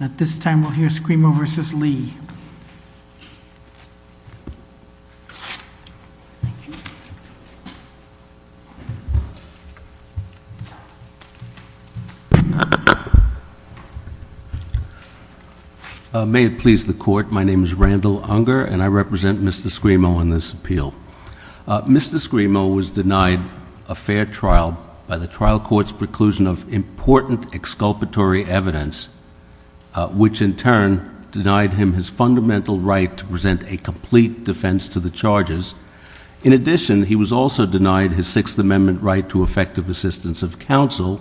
At this time we'll hear Scrimo v. Lee. May it please the court, my name is Randall Unger and I represent Mr. Scrimo on this appeal. Mr. Scrimo was denied a fair trial by the trial court's preclusion of important exculpatory evidence which in turn denied him his fundamental right to present a complete defense to the charges. In addition, he was also denied his Sixth Amendment right to effective assistance of counsel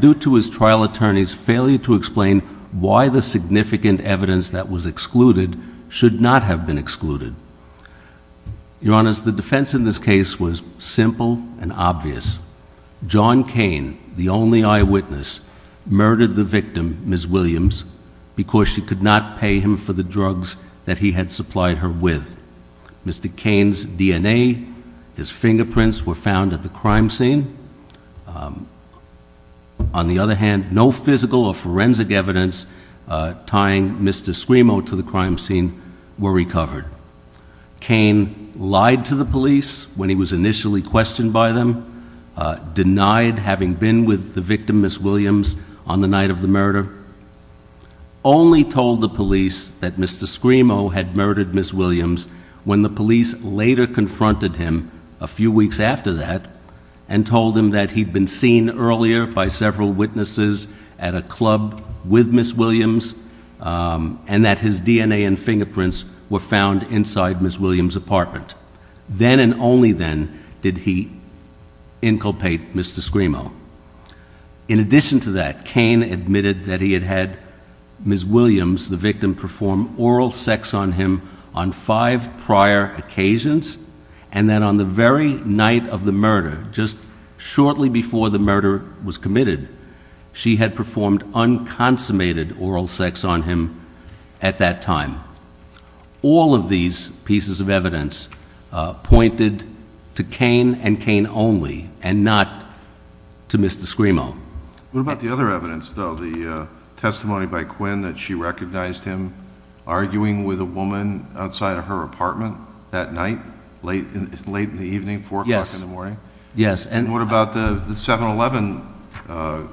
due to his trial attorney's failure to explain why the significant evidence that was excluded should not have been excluded. Your Honor, the defense in this case was simple and obvious. John Cain, the only eyewitness, murdered the victim, Ms. Williams, because she could not pay him for the drugs that he had supplied her with. Mr. Cain's DNA, his fingerprints were found at the crime scene. On the other hand, no physical or forensic evidence tying Mr. Scrimo to the crime scene were recovered. Cain lied to the police when he was initially questioned by them, denied having been with the victim, Ms. Williams, on the night of the murder, only told the police that Mr. Scrimo had murdered Ms. Williams when the police later confronted him a few weeks after that and told him that he'd been seen earlier by several witnesses at a club with Ms. Williams and that his DNA and fingerprints were found inside Ms. Williams' apartment. Then and only then did he inculpate Mr. Scrimo. In addition to that, Cain admitted that he had had Ms. Williams, the victim, perform oral sex on him on five prior occasions and that on the very night of the murder, just shortly before the murder was committed, she had performed unconsummated oral sex on him at that time. All of these pieces of evidence pointed to Cain and Cain only and not to Mr. Scrimo. What about the other evidence, though? The testimony by Quinn that she recognized him arguing with a woman outside of her apartment that night, late in the evening, 4 o'clock in the morning? Yes. And what about the 7-Eleven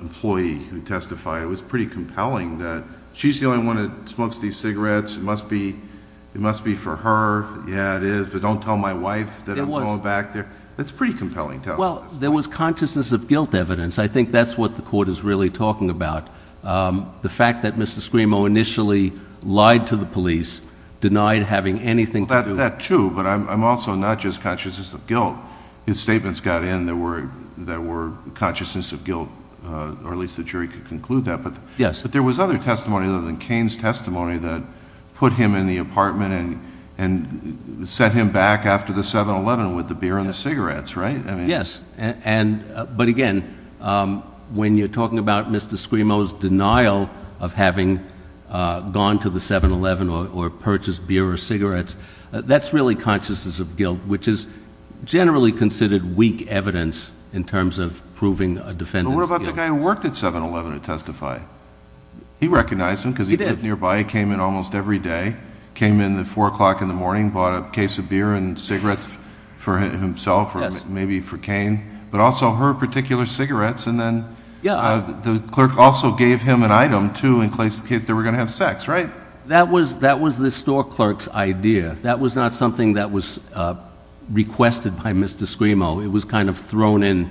employee who testified? It was pretty compelling that she's the only one that smokes these cigarettes. It must be for her. Yeah, it is, but don't tell my wife that I'm going back there. It's pretty compelling. Well, there was consciousness of guilt evidence. I think that's what the Court is really talking about. The fact that Mr. Scrimo initially lied to the police, denied having anything to do with it. I get that, too, but I'm also not just consciousness of guilt. His statements got in that were consciousness of guilt, or at least the jury could conclude that. But there was other testimony other than Cain's testimony that put him in the apartment and sent him back after the 7-Eleven with the beer and the cigarettes, right? Yes, but again, when you're talking about Mr. Scrimo's denial of having gone to the 7-Eleven or purchased beer or cigarettes, that's really consciousness of guilt, which is generally considered weak evidence in terms of proving a defendant's guilt. But what about the guy who worked at 7-Eleven who testified? He recognized him because he lived nearby. He came in almost every day, came in at 4 o'clock in the morning, bought a case of beer and cigarettes for himself or maybe for Cain, but also her particular cigarettes, and then the clerk also gave him an item, too, in case they were going to have sex, right? That was the store clerk's idea. That was not something that was requested by Mr. Scrimo. It was kind of thrown in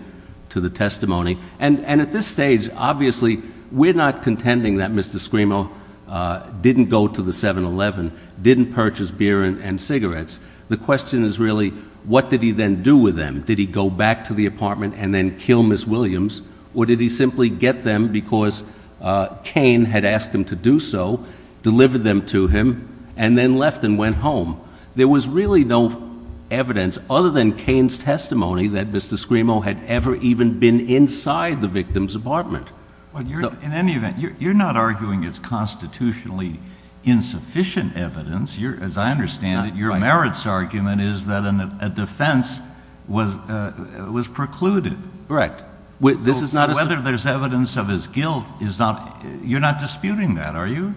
to the testimony. And at this stage, obviously, we're not contending that Mr. Scrimo didn't go to the 7-Eleven, didn't purchase beer and cigarettes. The question is really what did he then do with them. Did he go back to the apartment and then kill Ms. Williams, or did he simply get them because Cain had asked him to do so, delivered them to him, and then left and went home? There was really no evidence other than Cain's testimony that Mr. Scrimo had ever even been inside the victim's apartment. In any event, you're not arguing it's constitutionally insufficient evidence. As I understand it, your merits argument is that a defense was precluded. Correct. Whether there's evidence of his guilt is not—you're not disputing that, are you?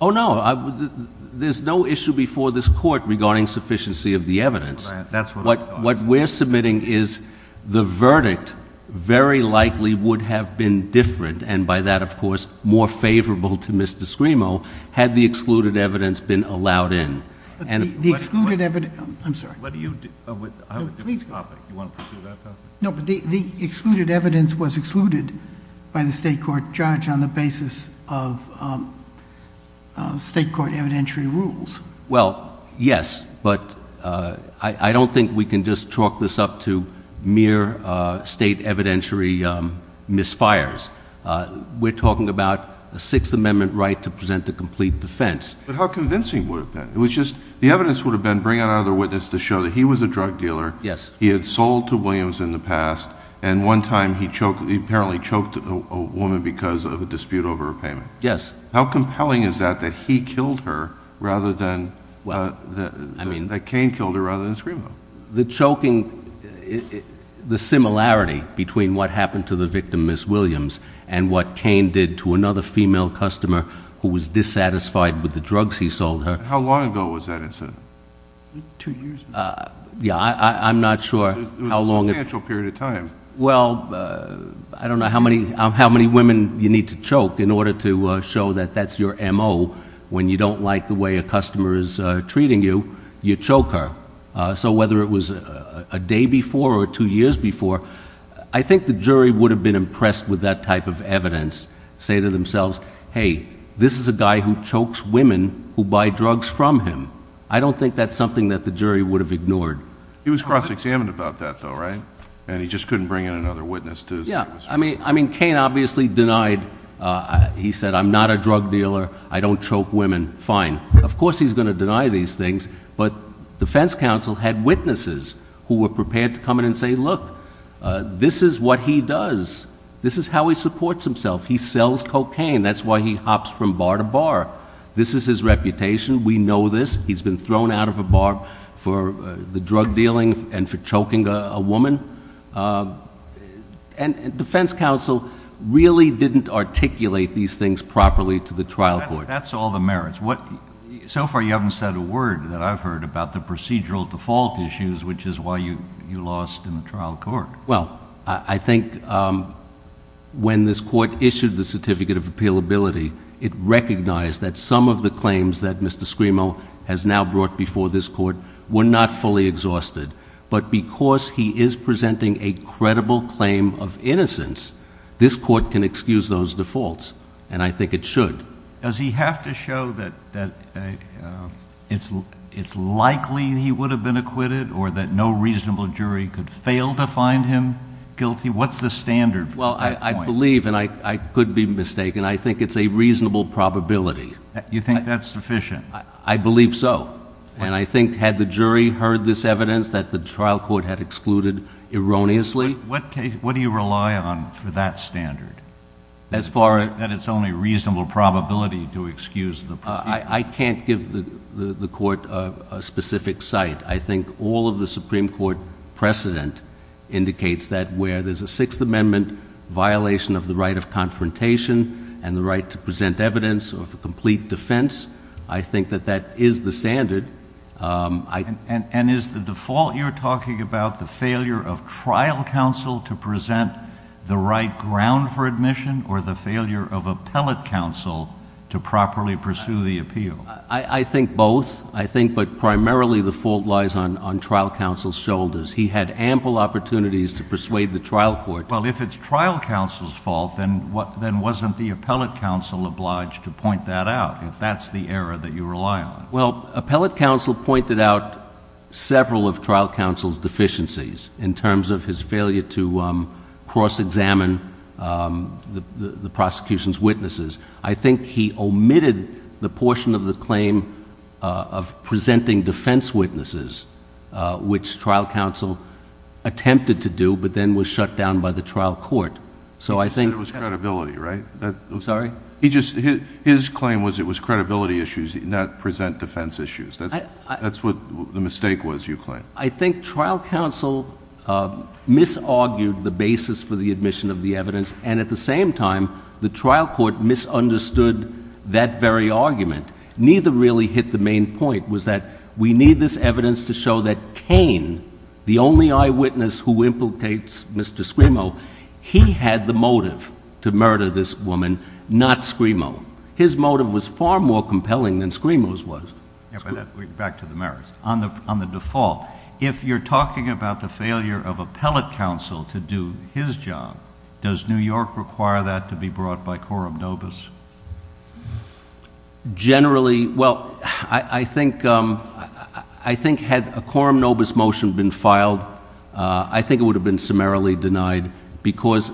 Oh, no. There's no issue before this Court regarding sufficiency of the evidence. That's what I thought. What we're submitting is the verdict very likely would have been different, and by that, of course, more favorable to Mr. Scrimo, had the excluded evidence been allowed in. The excluded evidence—I'm sorry. Do you want to pursue that topic? No, but the excluded evidence was excluded by the state court judge on the basis of state court evidentiary rules. Well, yes, but I don't think we can just chalk this up to mere state evidentiary misfires. We're talking about a Sixth Amendment right to present a complete defense. But how convincing would it have been? The evidence would have been bring out another witness to show that he was a drug dealer, he had sold to Williams in the past, and one time he apparently choked a woman because of a dispute over a payment. Yes. How compelling is that, that he killed her rather than—that Cain killed her rather than Scrimo? The choking—the similarity between what happened to the victim, Miss Williams, and what Cain did to another female customer who was dissatisfied with the drugs he sold her. How long ago was that incident? Two years ago. Yeah, I'm not sure how long— It was a substantial period of time. Well, I don't know how many women you need to choke in order to show that that's your M.O. when you don't like the way a customer is treating you, you choke her. So whether it was a day before or two years before, I think the jury would have been impressed with that type of evidence, say to themselves, hey, this is a guy who chokes women who buy drugs from him. I don't think that's something that the jury would have ignored. He was cross-examined about that, though, right? And he just couldn't bring in another witness to— Yeah, I mean, Cain obviously denied—he said, I'm not a drug dealer. I don't choke women. Fine. Of course he's going to deny these things, but the defense counsel had witnesses who were prepared to come in and say, look, this is what he does. This is how he supports himself. He sells cocaine. That's why he hops from bar to bar. This is his reputation. We know this. He's been thrown out of a bar for the drug dealing and for choking a woman. And defense counsel really didn't articulate these things properly to the trial court. That's all the merits. So far you haven't said a word that I've heard about the procedural default issues, which is why you lost in the trial court. Well, I think when this court issued the certificate of appealability, it recognized that some of the claims that Mr. Scrimo has now brought before this court were not fully exhausted. But because he is presenting a credible claim of innocence, this court can excuse those defaults, and I think it should. Does he have to show that it's likely he would have been acquitted or that no reasonable jury could fail to find him guilty? What's the standard for that point? Well, I believe, and I could be mistaken, I think it's a reasonable probability. You think that's sufficient? I believe so, and I think had the jury heard this evidence, that the trial court had excluded erroneously. What do you rely on for that standard? That it's only a reasonable probability to excuse the procedure? I can't give the court a specific site. I think all of the Supreme Court precedent indicates that where there's a Sixth Amendment violation of the right of confrontation and the right to present evidence of a complete defense, I think that that is the standard. And is the default you're talking about the failure of trial counsel to present the right ground for admission or the failure of appellate counsel to properly pursue the appeal? I think both. I think but primarily the fault lies on trial counsel's shoulders. He had ample opportunities to persuade the trial court. Well, if it's trial counsel's fault, then wasn't the appellate counsel obliged to point that out, if that's the error that you rely on? Well, appellate counsel pointed out several of trial counsel's deficiencies in terms of his failure to cross-examine the prosecution's witnesses. I think he omitted the portion of the claim of presenting defense witnesses, which trial counsel attempted to do but then was shut down by the trial court. You said it was credibility, right? I'm sorry? His claim was it was credibility issues, not present defense issues. That's what the mistake was, you claim. I think trial counsel misargued the basis for the admission of the evidence, and at the same time the trial court misunderstood that very argument. Neither really hit the main point, was that we need this evidence to show that Cain, the only eyewitness who implicates Mr. Scrimo, he had the motive to murder this woman, not Scrimo. His motive was far more compelling than Scrimo's was. Back to the merits. On the default, if you're talking about the failure of appellate counsel to do his job, does New York require that to be brought by quorum nobis? Generally, well, I think had a quorum nobis motion been filed, I think it would have been summarily denied because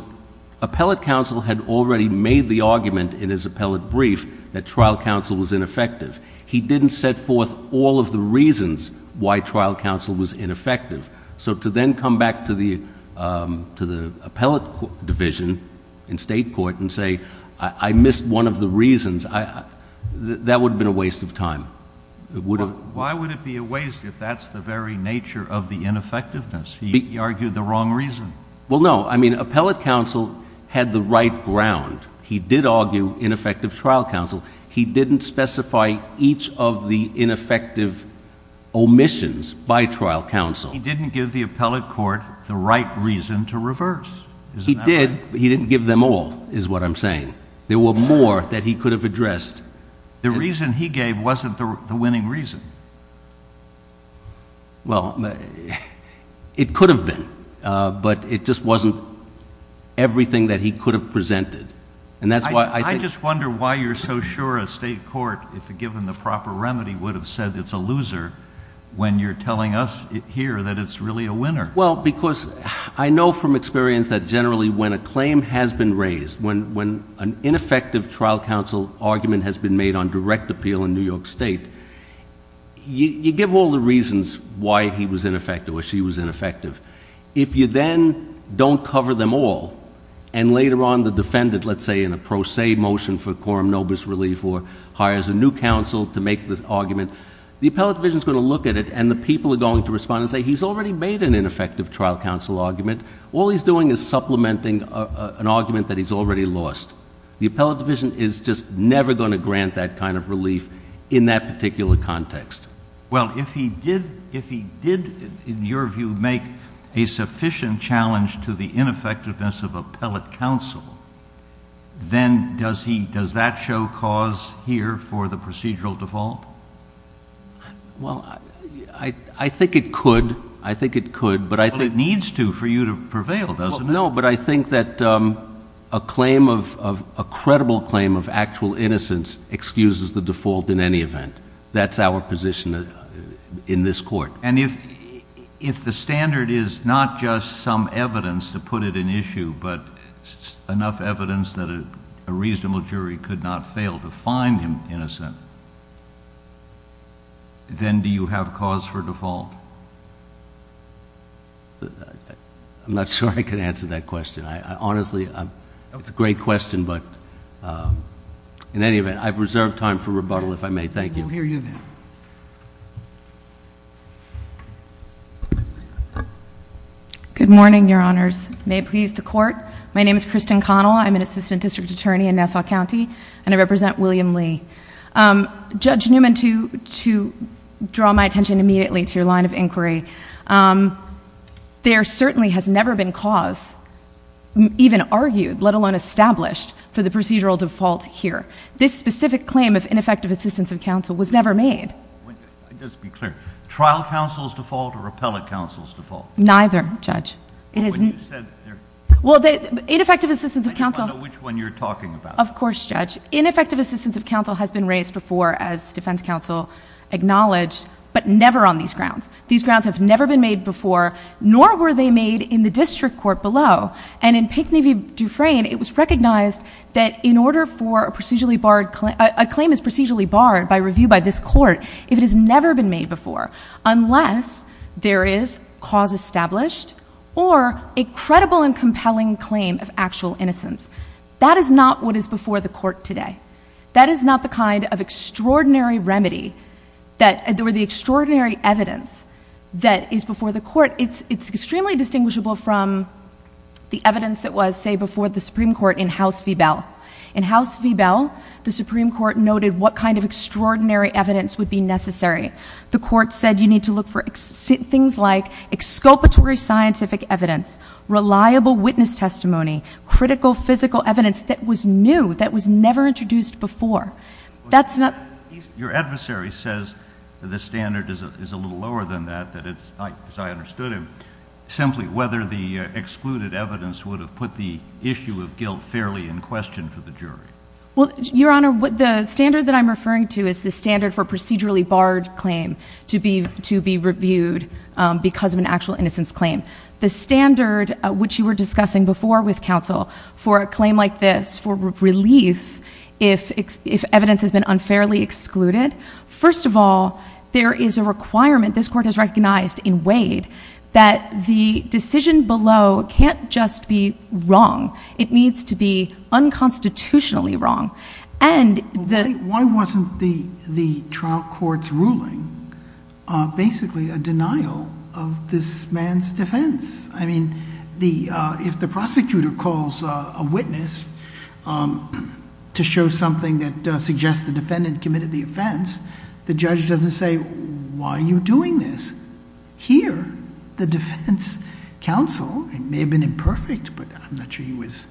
appellate counsel had already made the argument in his appellate brief that trial counsel was ineffective. He didn't set forth all of the reasons why trial counsel was ineffective. So to then come back to the appellate division in state court and say, I missed one of the reasons, that would have been a waste of time. Why would it be a waste if that's the very nature of the ineffectiveness? He argued the wrong reason. Well, no, I mean appellate counsel had the right ground. He did argue ineffective trial counsel. He didn't specify each of the ineffective omissions by trial counsel. He didn't give the appellate court the right reason to reverse. He did, but he didn't give them all is what I'm saying. There were more that he could have addressed. The reason he gave wasn't the winning reason. Well, it could have been, but it just wasn't everything that he could have presented. I just wonder why you're so sure a state court, if given the proper remedy, would have said it's a loser when you're telling us here that it's really a winner. Well, because I know from experience that generally when a claim has been raised, when an ineffective trial counsel argument has been made on direct appeal in New York State, you give all the reasons why he was ineffective or she was ineffective. If you then don't cover them all and later on the defendant, let's say, in a pro se motion for quorum nobis relief or hires a new counsel to make this argument, the appellate division is going to look at it and the people are going to respond and say, he's already made an ineffective trial counsel argument. All he's doing is supplementing an argument that he's already lost. The appellate division is just never going to grant that kind of relief in that particular context. Well, if he did, in your view, make a sufficient challenge to the ineffectiveness of appellate counsel, then does that show cause here for the procedural default? Well, I think it could. I think it could. Well, it needs to for you to prevail, doesn't it? No, but I think that a credible claim of actual innocence excuses the default in any event. That's our position in this court. And if the standard is not just some evidence to put it in issue, but enough evidence that a reasonable jury could not fail to find him innocent, then do you have cause for default? I'm not sure I can answer that question. Honestly, it's a great question, but in any event, I've reserved time for rebuttal if I may. Thank you. We'll hear you then. Good morning, Your Honors. May it please the Court. My name is Kristen Connell. I'm an assistant district attorney in Nassau County, and I represent William Lee. Judge Newman, to draw my attention immediately to your line of inquiry, there certainly has never been cause even argued, let alone established, for the procedural default here. This specific claim of ineffective assistance of counsel was never made. Let's be clear. Trial counsel's default or appellate counsel's default? Neither, Judge. Ineffective assistance of counsel. I don't know which one you're talking about. Of course, Judge. Ineffective assistance of counsel has been raised before as defense counsel acknowledged, but never on these grounds. These grounds have never been made before, nor were they made in the district court below. And in Pinckney v. Dufresne, it was recognized that in order for a procedurally barred claim, a claim is procedurally barred by review by this court if it has never been made before, unless there is cause established or a credible and compelling claim of actual innocence. That is not what is before the court today. That is not the kind of extraordinary remedy or the extraordinary evidence that is before the court. It's extremely distinguishable from the evidence that was, say, before the Supreme Court in House v. Bell. In House v. Bell, the Supreme Court noted what kind of extraordinary evidence would be necessary. The court said you need to look for things like exculpatory scientific evidence, reliable witness testimony, critical physical evidence that was new, that was never introduced before. Your adversary says the standard is a little lower than that, as I understood him, simply whether the excluded evidence would have put the issue of guilt fairly in question for the jury. Well, Your Honor, the standard that I'm referring to is the standard for procedurally barred claim to be reviewed because of an actual innocence claim. The standard which you were discussing before with counsel for a claim like this, for relief if evidence has been unfairly excluded, first of all, there is a requirement, this court has recognized in Wade, that the decision below can't just be wrong. It needs to be unconstitutionally wrong. Why wasn't the trial court's ruling basically a denial of this man's defense? I mean, if the prosecutor calls a witness to show something that suggests the defendant committed the offense, the judge doesn't say, why are you doing this? Here, the defense counsel, it may have been imperfect, but I'm not sure he was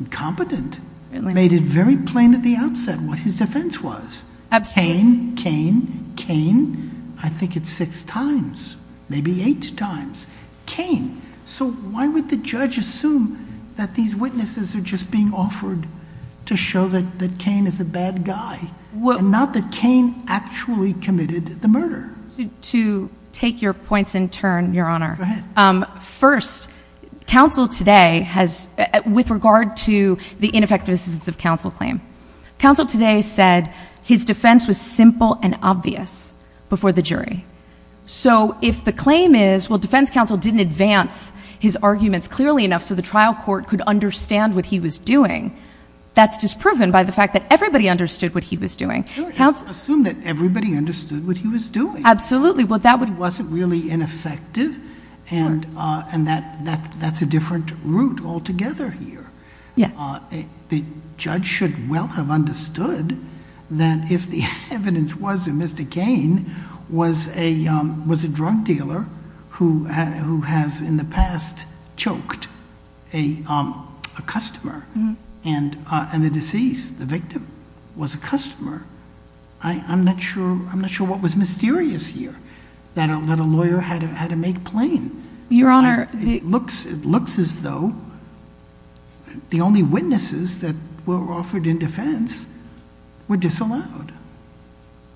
incompetent, made it very plain at the outset what his defense was. Abstain. Cain, Cain, Cain, I think it's six times, maybe eight times. Cain. So why would the judge assume that these witnesses are just being offered to show that Cain is a bad guy, and not that Cain actually committed the murder? To take your points in turn, Your Honor. Go ahead. First, counsel today has, with regard to the ineffectiveness of counsel claim, counsel today said his defense was simple and obvious before the jury. So if the claim is, well, defense counsel didn't advance his arguments clearly enough so the trial court could understand what he was doing, that's disproven by the fact that everybody understood what he was doing. Assume that everybody understood what he was doing. Absolutely. He wasn't really ineffective, and that's a different route altogether here. Yes. The judge should well have understood that if the evidence was that Mr. Cain was a drug dealer who has in the past choked a customer, and the deceased, the victim, was a customer, I'm not sure what was mysterious here that a lawyer had to make plain. Your Honor. It looks as though the only witnesses that were offered in defense were disallowed.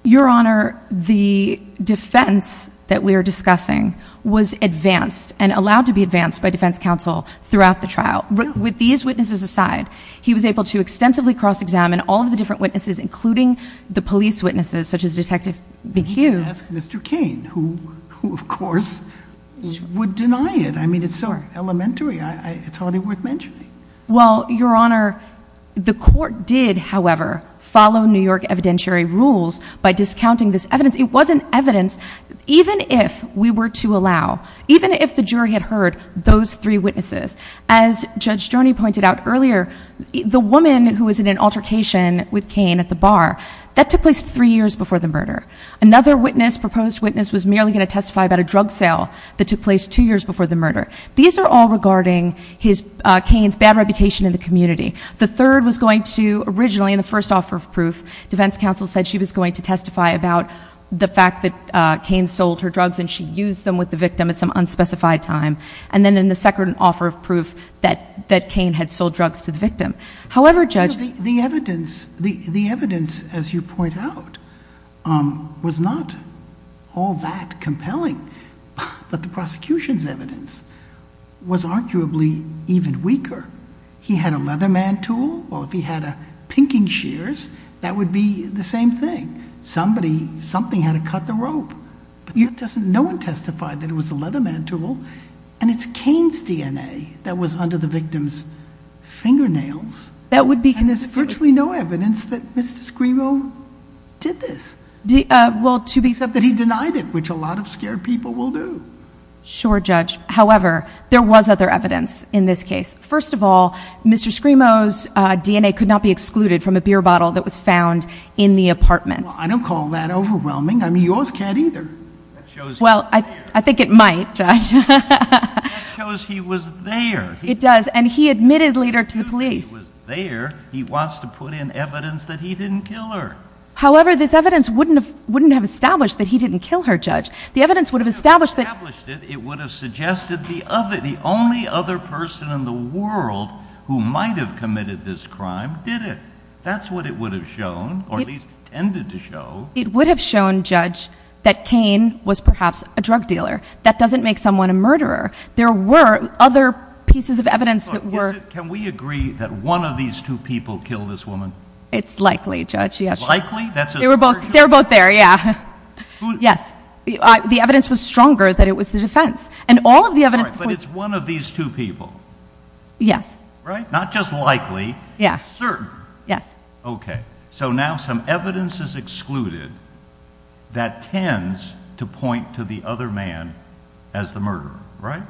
Your Honor, the defense that we are discussing was advanced and allowed to be advanced by defense counsel throughout the trial. With these witnesses aside, he was able to extensively cross-examine all of the different witnesses, including the police witnesses, such as Detective McHugh. I'm going to ask Mr. Cain, who, of course, would deny it. I mean, it's so elementary, it's hardly worth mentioning. Well, Your Honor, the court did, however, follow New York evidentiary rules by discounting this evidence. It wasn't evidence, even if we were to allow, even if the jury had heard those three witnesses. As Judge Stroni pointed out earlier, the woman who was in an altercation with Cain at the bar, that took place three years before the murder. Another witness, proposed witness, was merely going to testify about a drug sale that took place two years before the murder. These are all regarding Cain's bad reputation in the community. The third was going to, originally, in the first offer of proof, defense counsel said she was going to testify about the fact that Cain sold her drugs and she used them with the victim at some unspecified time. And then in the second offer of proof, that Cain had sold drugs to the victim. The evidence, as you point out, was not all that compelling. But the prosecution's evidence was arguably even weaker. He had a Leatherman tool, or if he had a pinking shears, that would be the same thing. Somebody, something had to cut the rope. No one testified that it was a Leatherman tool. And it's Cain's DNA that was under the victim's fingernails. And there's virtually no evidence that Mr. Scrimo did this. Except that he denied it, which a lot of scared people will do. Sure, Judge. However, there was other evidence in this case. First of all, Mr. Scrimo's DNA could not be excluded from a beer bottle that was found in the apartment. I don't call that overwhelming. I mean, yours can't either. Well, I think it might, Judge. That shows he was there. It does, and he admitted later to the police. It shows he was there. He wants to put in evidence that he didn't kill her. However, this evidence wouldn't have established that he didn't kill her, Judge. If it would have established it, it would have suggested the only other person in the world who might have committed this crime did it. That's what it would have shown, or at least tended to show. It would have shown, Judge, that Cain was perhaps a drug dealer. That doesn't make someone a murderer. There were other pieces of evidence that were. Can we agree that one of these two people killed this woman? It's likely, Judge. Likely? They were both there, yeah. Yes. The evidence was stronger that it was the defense. But it's one of these two people. Yes. Right? Not just likely, certain. Yes. Okay. So now some evidence is excluded that tends to point to the other man as the murderer, right?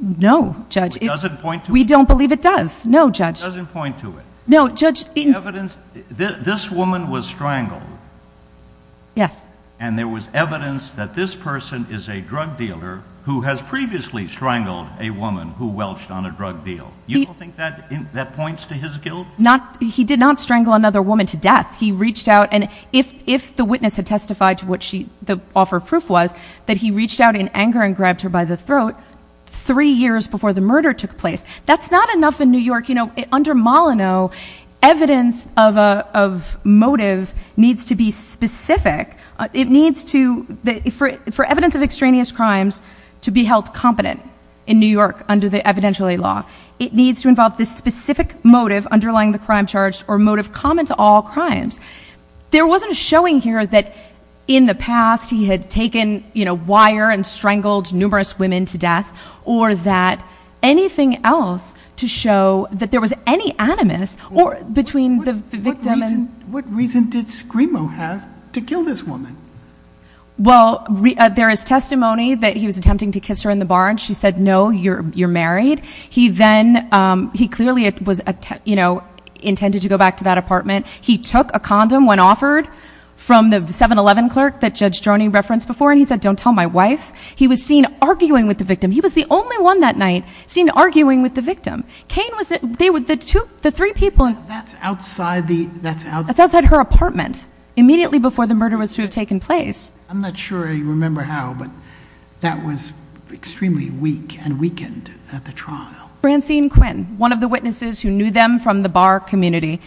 No, Judge. It doesn't point to it? We don't believe it does. No, Judge. It doesn't point to it. No, Judge. The evidence, this woman was strangled. Yes. And there was evidence that this person is a drug dealer who has previously strangled a woman who welched on a drug deal. You don't think that points to his guilt? He did not strangle another woman to death. He reached out, and if the witness had testified to what the offer of proof was, that he reached out in anger and grabbed her by the throat three years before the murder took place. That's not enough in New York. You know, under Molyneux, evidence of motive needs to be specific. It needs to, for evidence of extraneous crimes to be held competent in New York under the Evidentiality Law, it needs to involve this specific motive underlying the crime charge or motive common to all crimes. There wasn't a showing here that in the past he had taken, you know, wire and strangled numerous women to death or that anything else to show that there was any animus between the victim and— What reason did Scrimo have to kill this woman? Well, there is testimony that he was attempting to kiss her in the bar and she said, no, you're married. He then, he clearly was, you know, intended to go back to that apartment. He took a condom when offered from the 7-Eleven clerk that Judge Droney referenced before, and he said, don't tell my wife. He was seen arguing with the victim. He was the only one that night seen arguing with the victim. Kane was, they were the two, the three people. That's outside the, that's outside— That's outside her apartment, immediately before the murder was to have taken place. I'm not sure I remember how, but that was extremely weak and weakened at the trial. Francine Quinn, one of the witnesses who knew them from the bar community,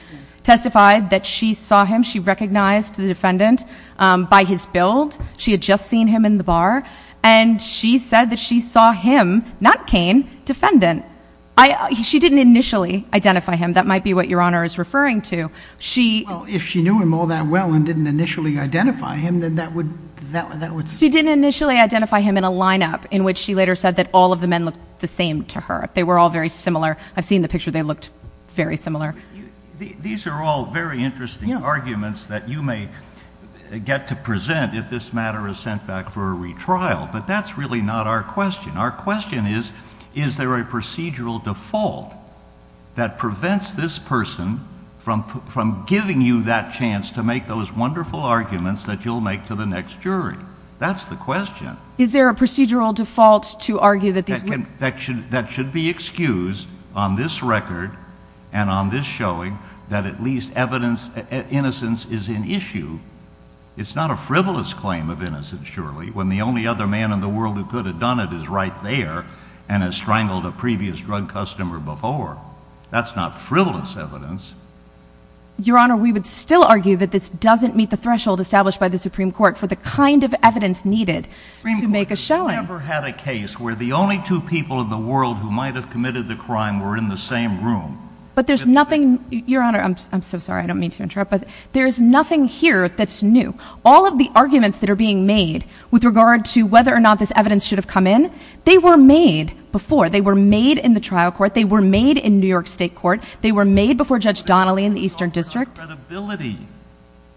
testified that she saw him. She recognized the defendant by his build. She had just seen him in the bar, and she said that she saw him, not Kane, defendant. She didn't initially identify him. That might be what Your Honor is referring to. Well, if she knew him all that well and didn't initially identify him, then that would— She didn't initially identify him in a lineup in which she later said that all of the men looked the same to her. They were all very similar. I've seen the picture. They looked very similar. These are all very interesting arguments that you may get to present if this matter is sent back for a retrial, but that's really not our question. Our question is, is there a procedural default that prevents this person from giving you that chance to make those wonderful arguments that you'll make to the next jury? That's the question. Is there a procedural default to argue that these women— That should be excused on this record and on this showing that at least innocence is in issue. It's not a frivolous claim of innocence, surely, when the only other man in the world who could have done it is right there and has strangled a previous drug customer before. That's not frivolous evidence. Your Honor, we would still argue that this doesn't meet the threshold established by the Supreme Court for the kind of evidence needed to make a showing. Supreme Court, have you ever had a case where the only two people in the world who might have committed the crime were in the same room? But there's nothing—Your Honor, I'm so sorry. I don't mean to interrupt, but there's nothing here that's new. All of the arguments that are being made with regard to whether or not this evidence should have come in, they were made before. They were made in the trial court. They were made in New York State court. They were made before Judge Donnelly in the Eastern District.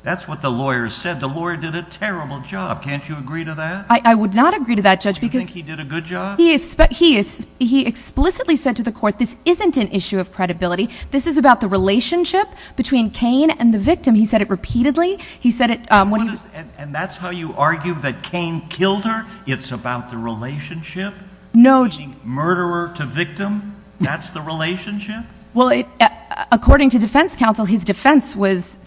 That's what the lawyer said. The lawyer did a terrible job. Can't you agree to that? I would not agree to that, Judge, because— Do you think he did a good job? He explicitly said to the court this isn't an issue of credibility. This is about the relationship between Cain and the victim. He said it repeatedly. And that's how you argue that Cain killed her? It's about the relationship between murderer to victim? That's the relationship? Well, according to defense counsel, his defense was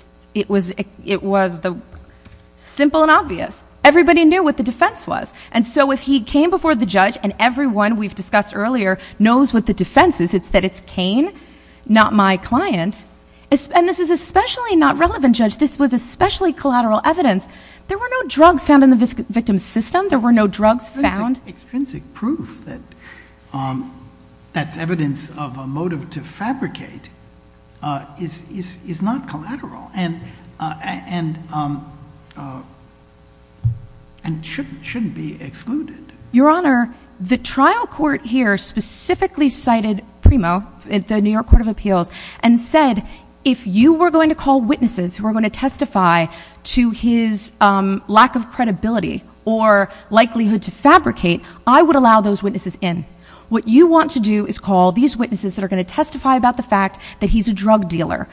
simple and obvious. Everybody knew what the defense was. And so if he came before the judge, and everyone we've discussed earlier knows what the defense is, it's that it's Cain, not my client. And this is especially not relevant, Judge. This was especially collateral evidence. There were no drugs found in the victim's system. There were no drugs found. Extrinsic proof that that's evidence of a motive to fabricate is not collateral and shouldn't be excluded. Your Honor, the trial court here specifically cited PRIMO, the New York Court of Appeals, and said if you were going to call witnesses who were going to testify to his lack of credibility or likelihood to fabricate, I would allow those witnesses in. What you want to do is call these witnesses that are going to testify about the fact that he's a drug dealer.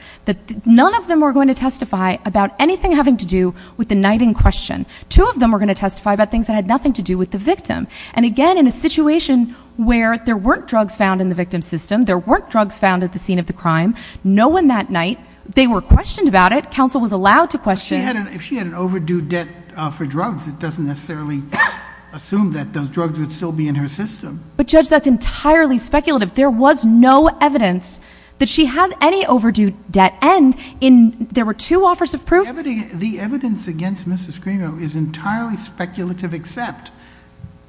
None of them were going to testify about anything having to do with the night in question. Two of them were going to testify about things that had nothing to do with the victim. And again, in a situation where there weren't drugs found in the victim's system, there weren't drugs found at the scene of the crime, no one that night, they were questioned about it. Counsel was allowed to question. But if she had an overdue debt for drugs, it doesn't necessarily assume that those drugs would still be in her system. But, Judge, that's entirely speculative. There was no evidence that she had any overdue debt. And there were two offers of proof. The evidence against Mrs. Cremo is entirely speculative except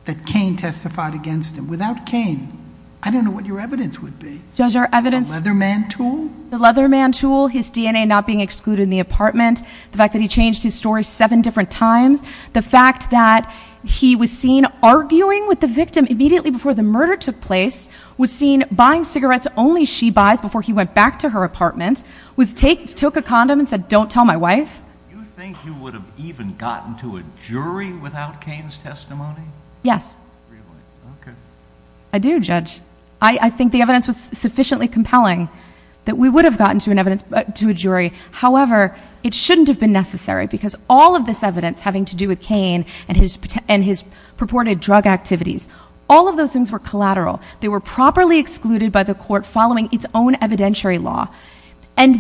that Cain testified against him. Without Cain, I don't know what your evidence would be. The Leather Man tool? The Leather Man tool, his DNA not being excluded in the apartment, the fact that he changed his story seven different times, the fact that he was seen arguing with the victim immediately before the murder took place, was seen buying cigarettes only she buys before he went back to her apartment, took a condom and said, don't tell my wife. You think you would have even gotten to a jury without Cain's testimony? Yes. I do, Judge. I think the evidence was sufficiently compelling that we would have gotten to a jury. However, it shouldn't have been necessary because all of this evidence having to do with Cain and his purported drug activities, all of those things were collateral. They were properly excluded by the court following its own evidentiary law. And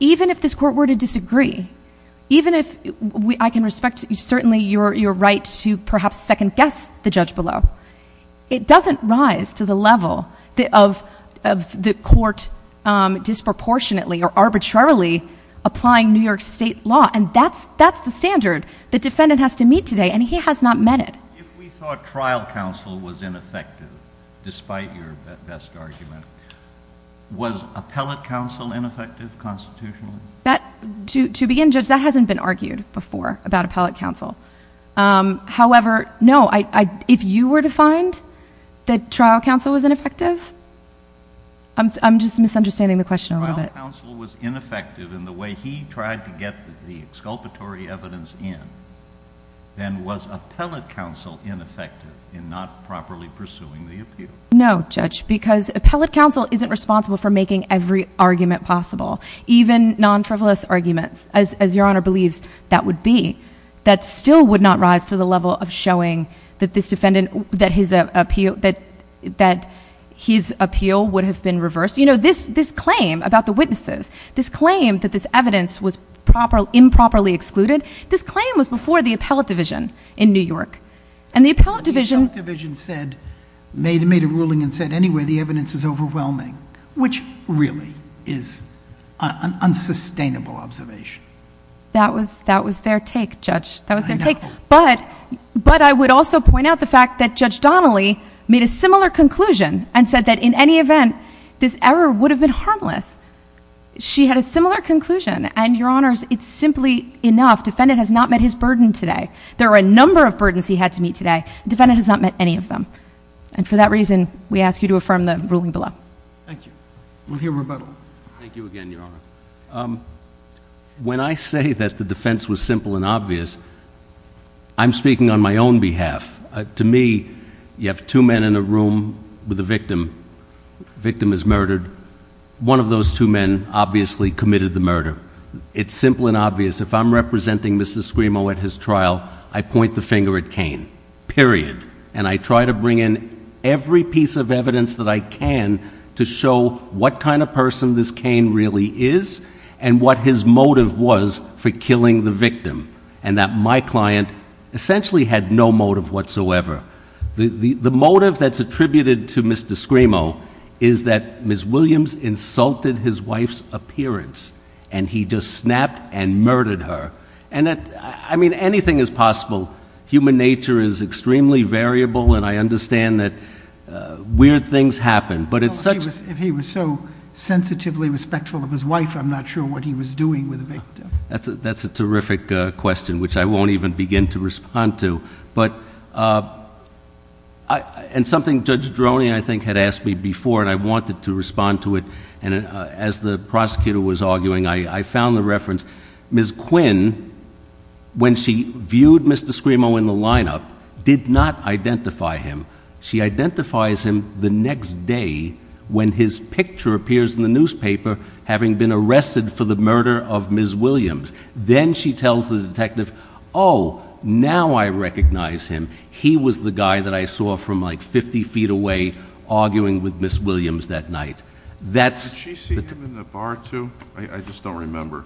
even if this court were to disagree, even if I can respect certainly your right to perhaps second guess the judge below, it doesn't rise to the level of the court disproportionately or arbitrarily applying New York State law. And that's the standard the defendant has to meet today. And he has not met it. If we thought trial counsel was ineffective, despite your best argument, was appellate counsel ineffective constitutionally? To begin, Judge, that hasn't been argued before about appellate counsel. However, no, if you were to find that trial counsel was ineffective, I'm just misunderstanding the question a little bit. If trial counsel was ineffective in the way he tried to get the exculpatory evidence in, then was appellate counsel ineffective in not properly pursuing the appeal? No, Judge, because appellate counsel isn't responsible for making every argument possible. Even non-frivolous arguments, as your Honor believes that would be, that still would not rise to the level of showing that his appeal would have been reversed. You know, this claim about the witnesses, this claim that this evidence was improperly excluded, this claim was before the appellate division in New York. And the appellate division said, made a ruling and said, anyway, the evidence is overwhelming, which really is an unsustainable observation. That was their take, Judge. That was their take. But I would also point out the fact that Judge Donnelly made a similar conclusion and said that in any event, this error would have been harmless. She had a similar conclusion. And, Your Honors, it's simply enough. Defendant has not met his burden today. There are a number of burdens he had to meet today. Defendant has not met any of them. And for that reason, we ask you to affirm the ruling below. Thank you. We'll hear rebuttal. Thank you again, Your Honor. When I say that the defense was simple and obvious, I'm speaking on my own behalf. To me, you have two men in a room with a victim. The victim is murdered. One of those two men obviously committed the murder. It's simple and obvious. If I'm representing Mr. Scrimo at his trial, I point the finger at Cain. Period. And I try to bring in every piece of evidence that I can to show what kind of person this Cain really is and what his motive was for killing the victim. And that my client essentially had no motive whatsoever. The motive that's attributed to Mr. Scrimo is that Ms. Williams insulted his wife's appearance and he just snapped and murdered her. I mean, anything is possible. Human nature is extremely variable, and I understand that weird things happen. If he was so sensitively respectful of his wife, I'm not sure what he was doing with the victim. That's a terrific question, which I won't even begin to respond to. And something Judge Droney, I think, had asked me before, and I wanted to respond to it. And as the prosecutor was arguing, I found the reference. Ms. Quinn, when she viewed Mr. Scrimo in the lineup, did not identify him. She identifies him the next day when his picture appears in the newspaper having been arrested for the murder of Ms. Williams. Then she tells the detective, oh, now I recognize him. He was the guy that I saw from like 50 feet away arguing with Ms. Williams that night. Did she see him in the bar too? I just don't remember.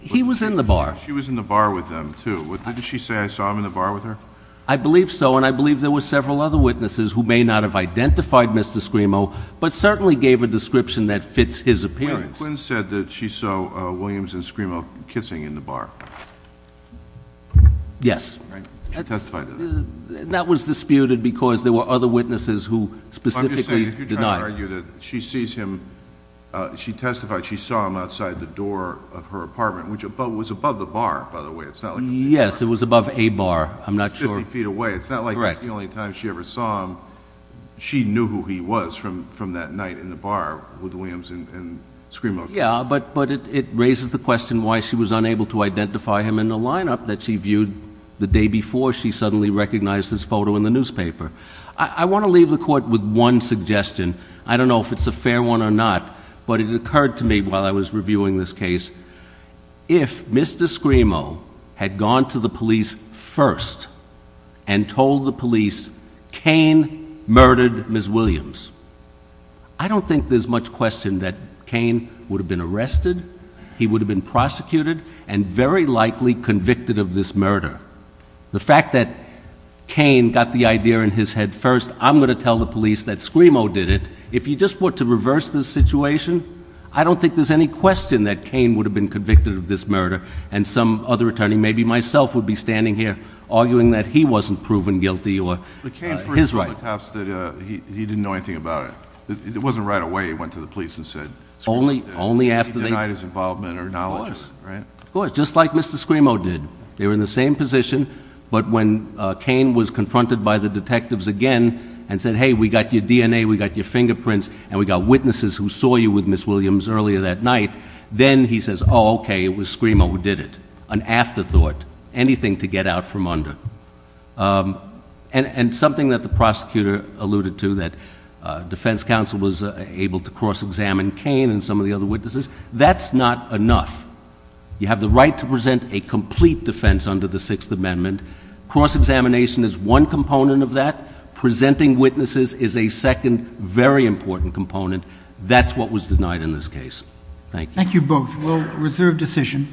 He was in the bar. She was in the bar with him too. Didn't she say I saw him in the bar with her? I believe so, and I believe there were several other witnesses who may not have identified Mr. Scrimo but certainly gave a description that fits his appearance. Ms. Quinn said that she saw Williams and Scrimo kissing in the bar. Yes. She testified to that. That was disputed because there were other witnesses who specifically denied it. If you're trying to argue that she sees him, she testified she saw him outside the door of her apartment, which was above the bar, by the way. Yes, it was above a bar. I'm not sure. 50 feet away. It's not like that's the only time she ever saw him. She knew who he was from that night in the bar with Williams and Scrimo. Yeah, but it raises the question why she was unable to identify him in the lineup that she viewed the day before she suddenly recognized his photo in the newspaper. I want to leave the court with one suggestion. I don't know if it's a fair one or not, but it occurred to me while I was reviewing this case. If Mr. Scrimo had gone to the police first and told the police, Cain murdered Ms. Williams, I don't think there's much question that Cain would have been arrested, he would have been prosecuted, and very likely convicted of this murder. The fact that Cain got the idea in his head first, I'm going to tell the police that Scrimo did it. If you just want to reverse the situation, I don't think there's any question that Cain would have been convicted of this murder, and some other attorney, maybe myself, would be standing here arguing that he wasn't proven guilty or his right. But Cain first told the cops that he didn't know anything about it. It wasn't right away he went to the police and said Scrimo did it. Only after they— He denied his involvement or knowledge, right? Of course, just like Mr. Scrimo did. They were in the same position, but when Cain was confronted by the detectives again and said, hey, we got your DNA, we got your fingerprints, and we got witnesses who saw you with Ms. Williams earlier that night, then he says, oh, okay, it was Scrimo who did it. An afterthought. Anything to get out from under. And something that the prosecutor alluded to, that defense counsel was able to cross-examine Cain and some of the other witnesses, that's not enough. You have the right to present a complete defense under the Sixth Amendment. Cross-examination is one component of that. Presenting witnesses is a second, very important component. That's what was denied in this case. Thank you. Thank you both. We'll reserve decision.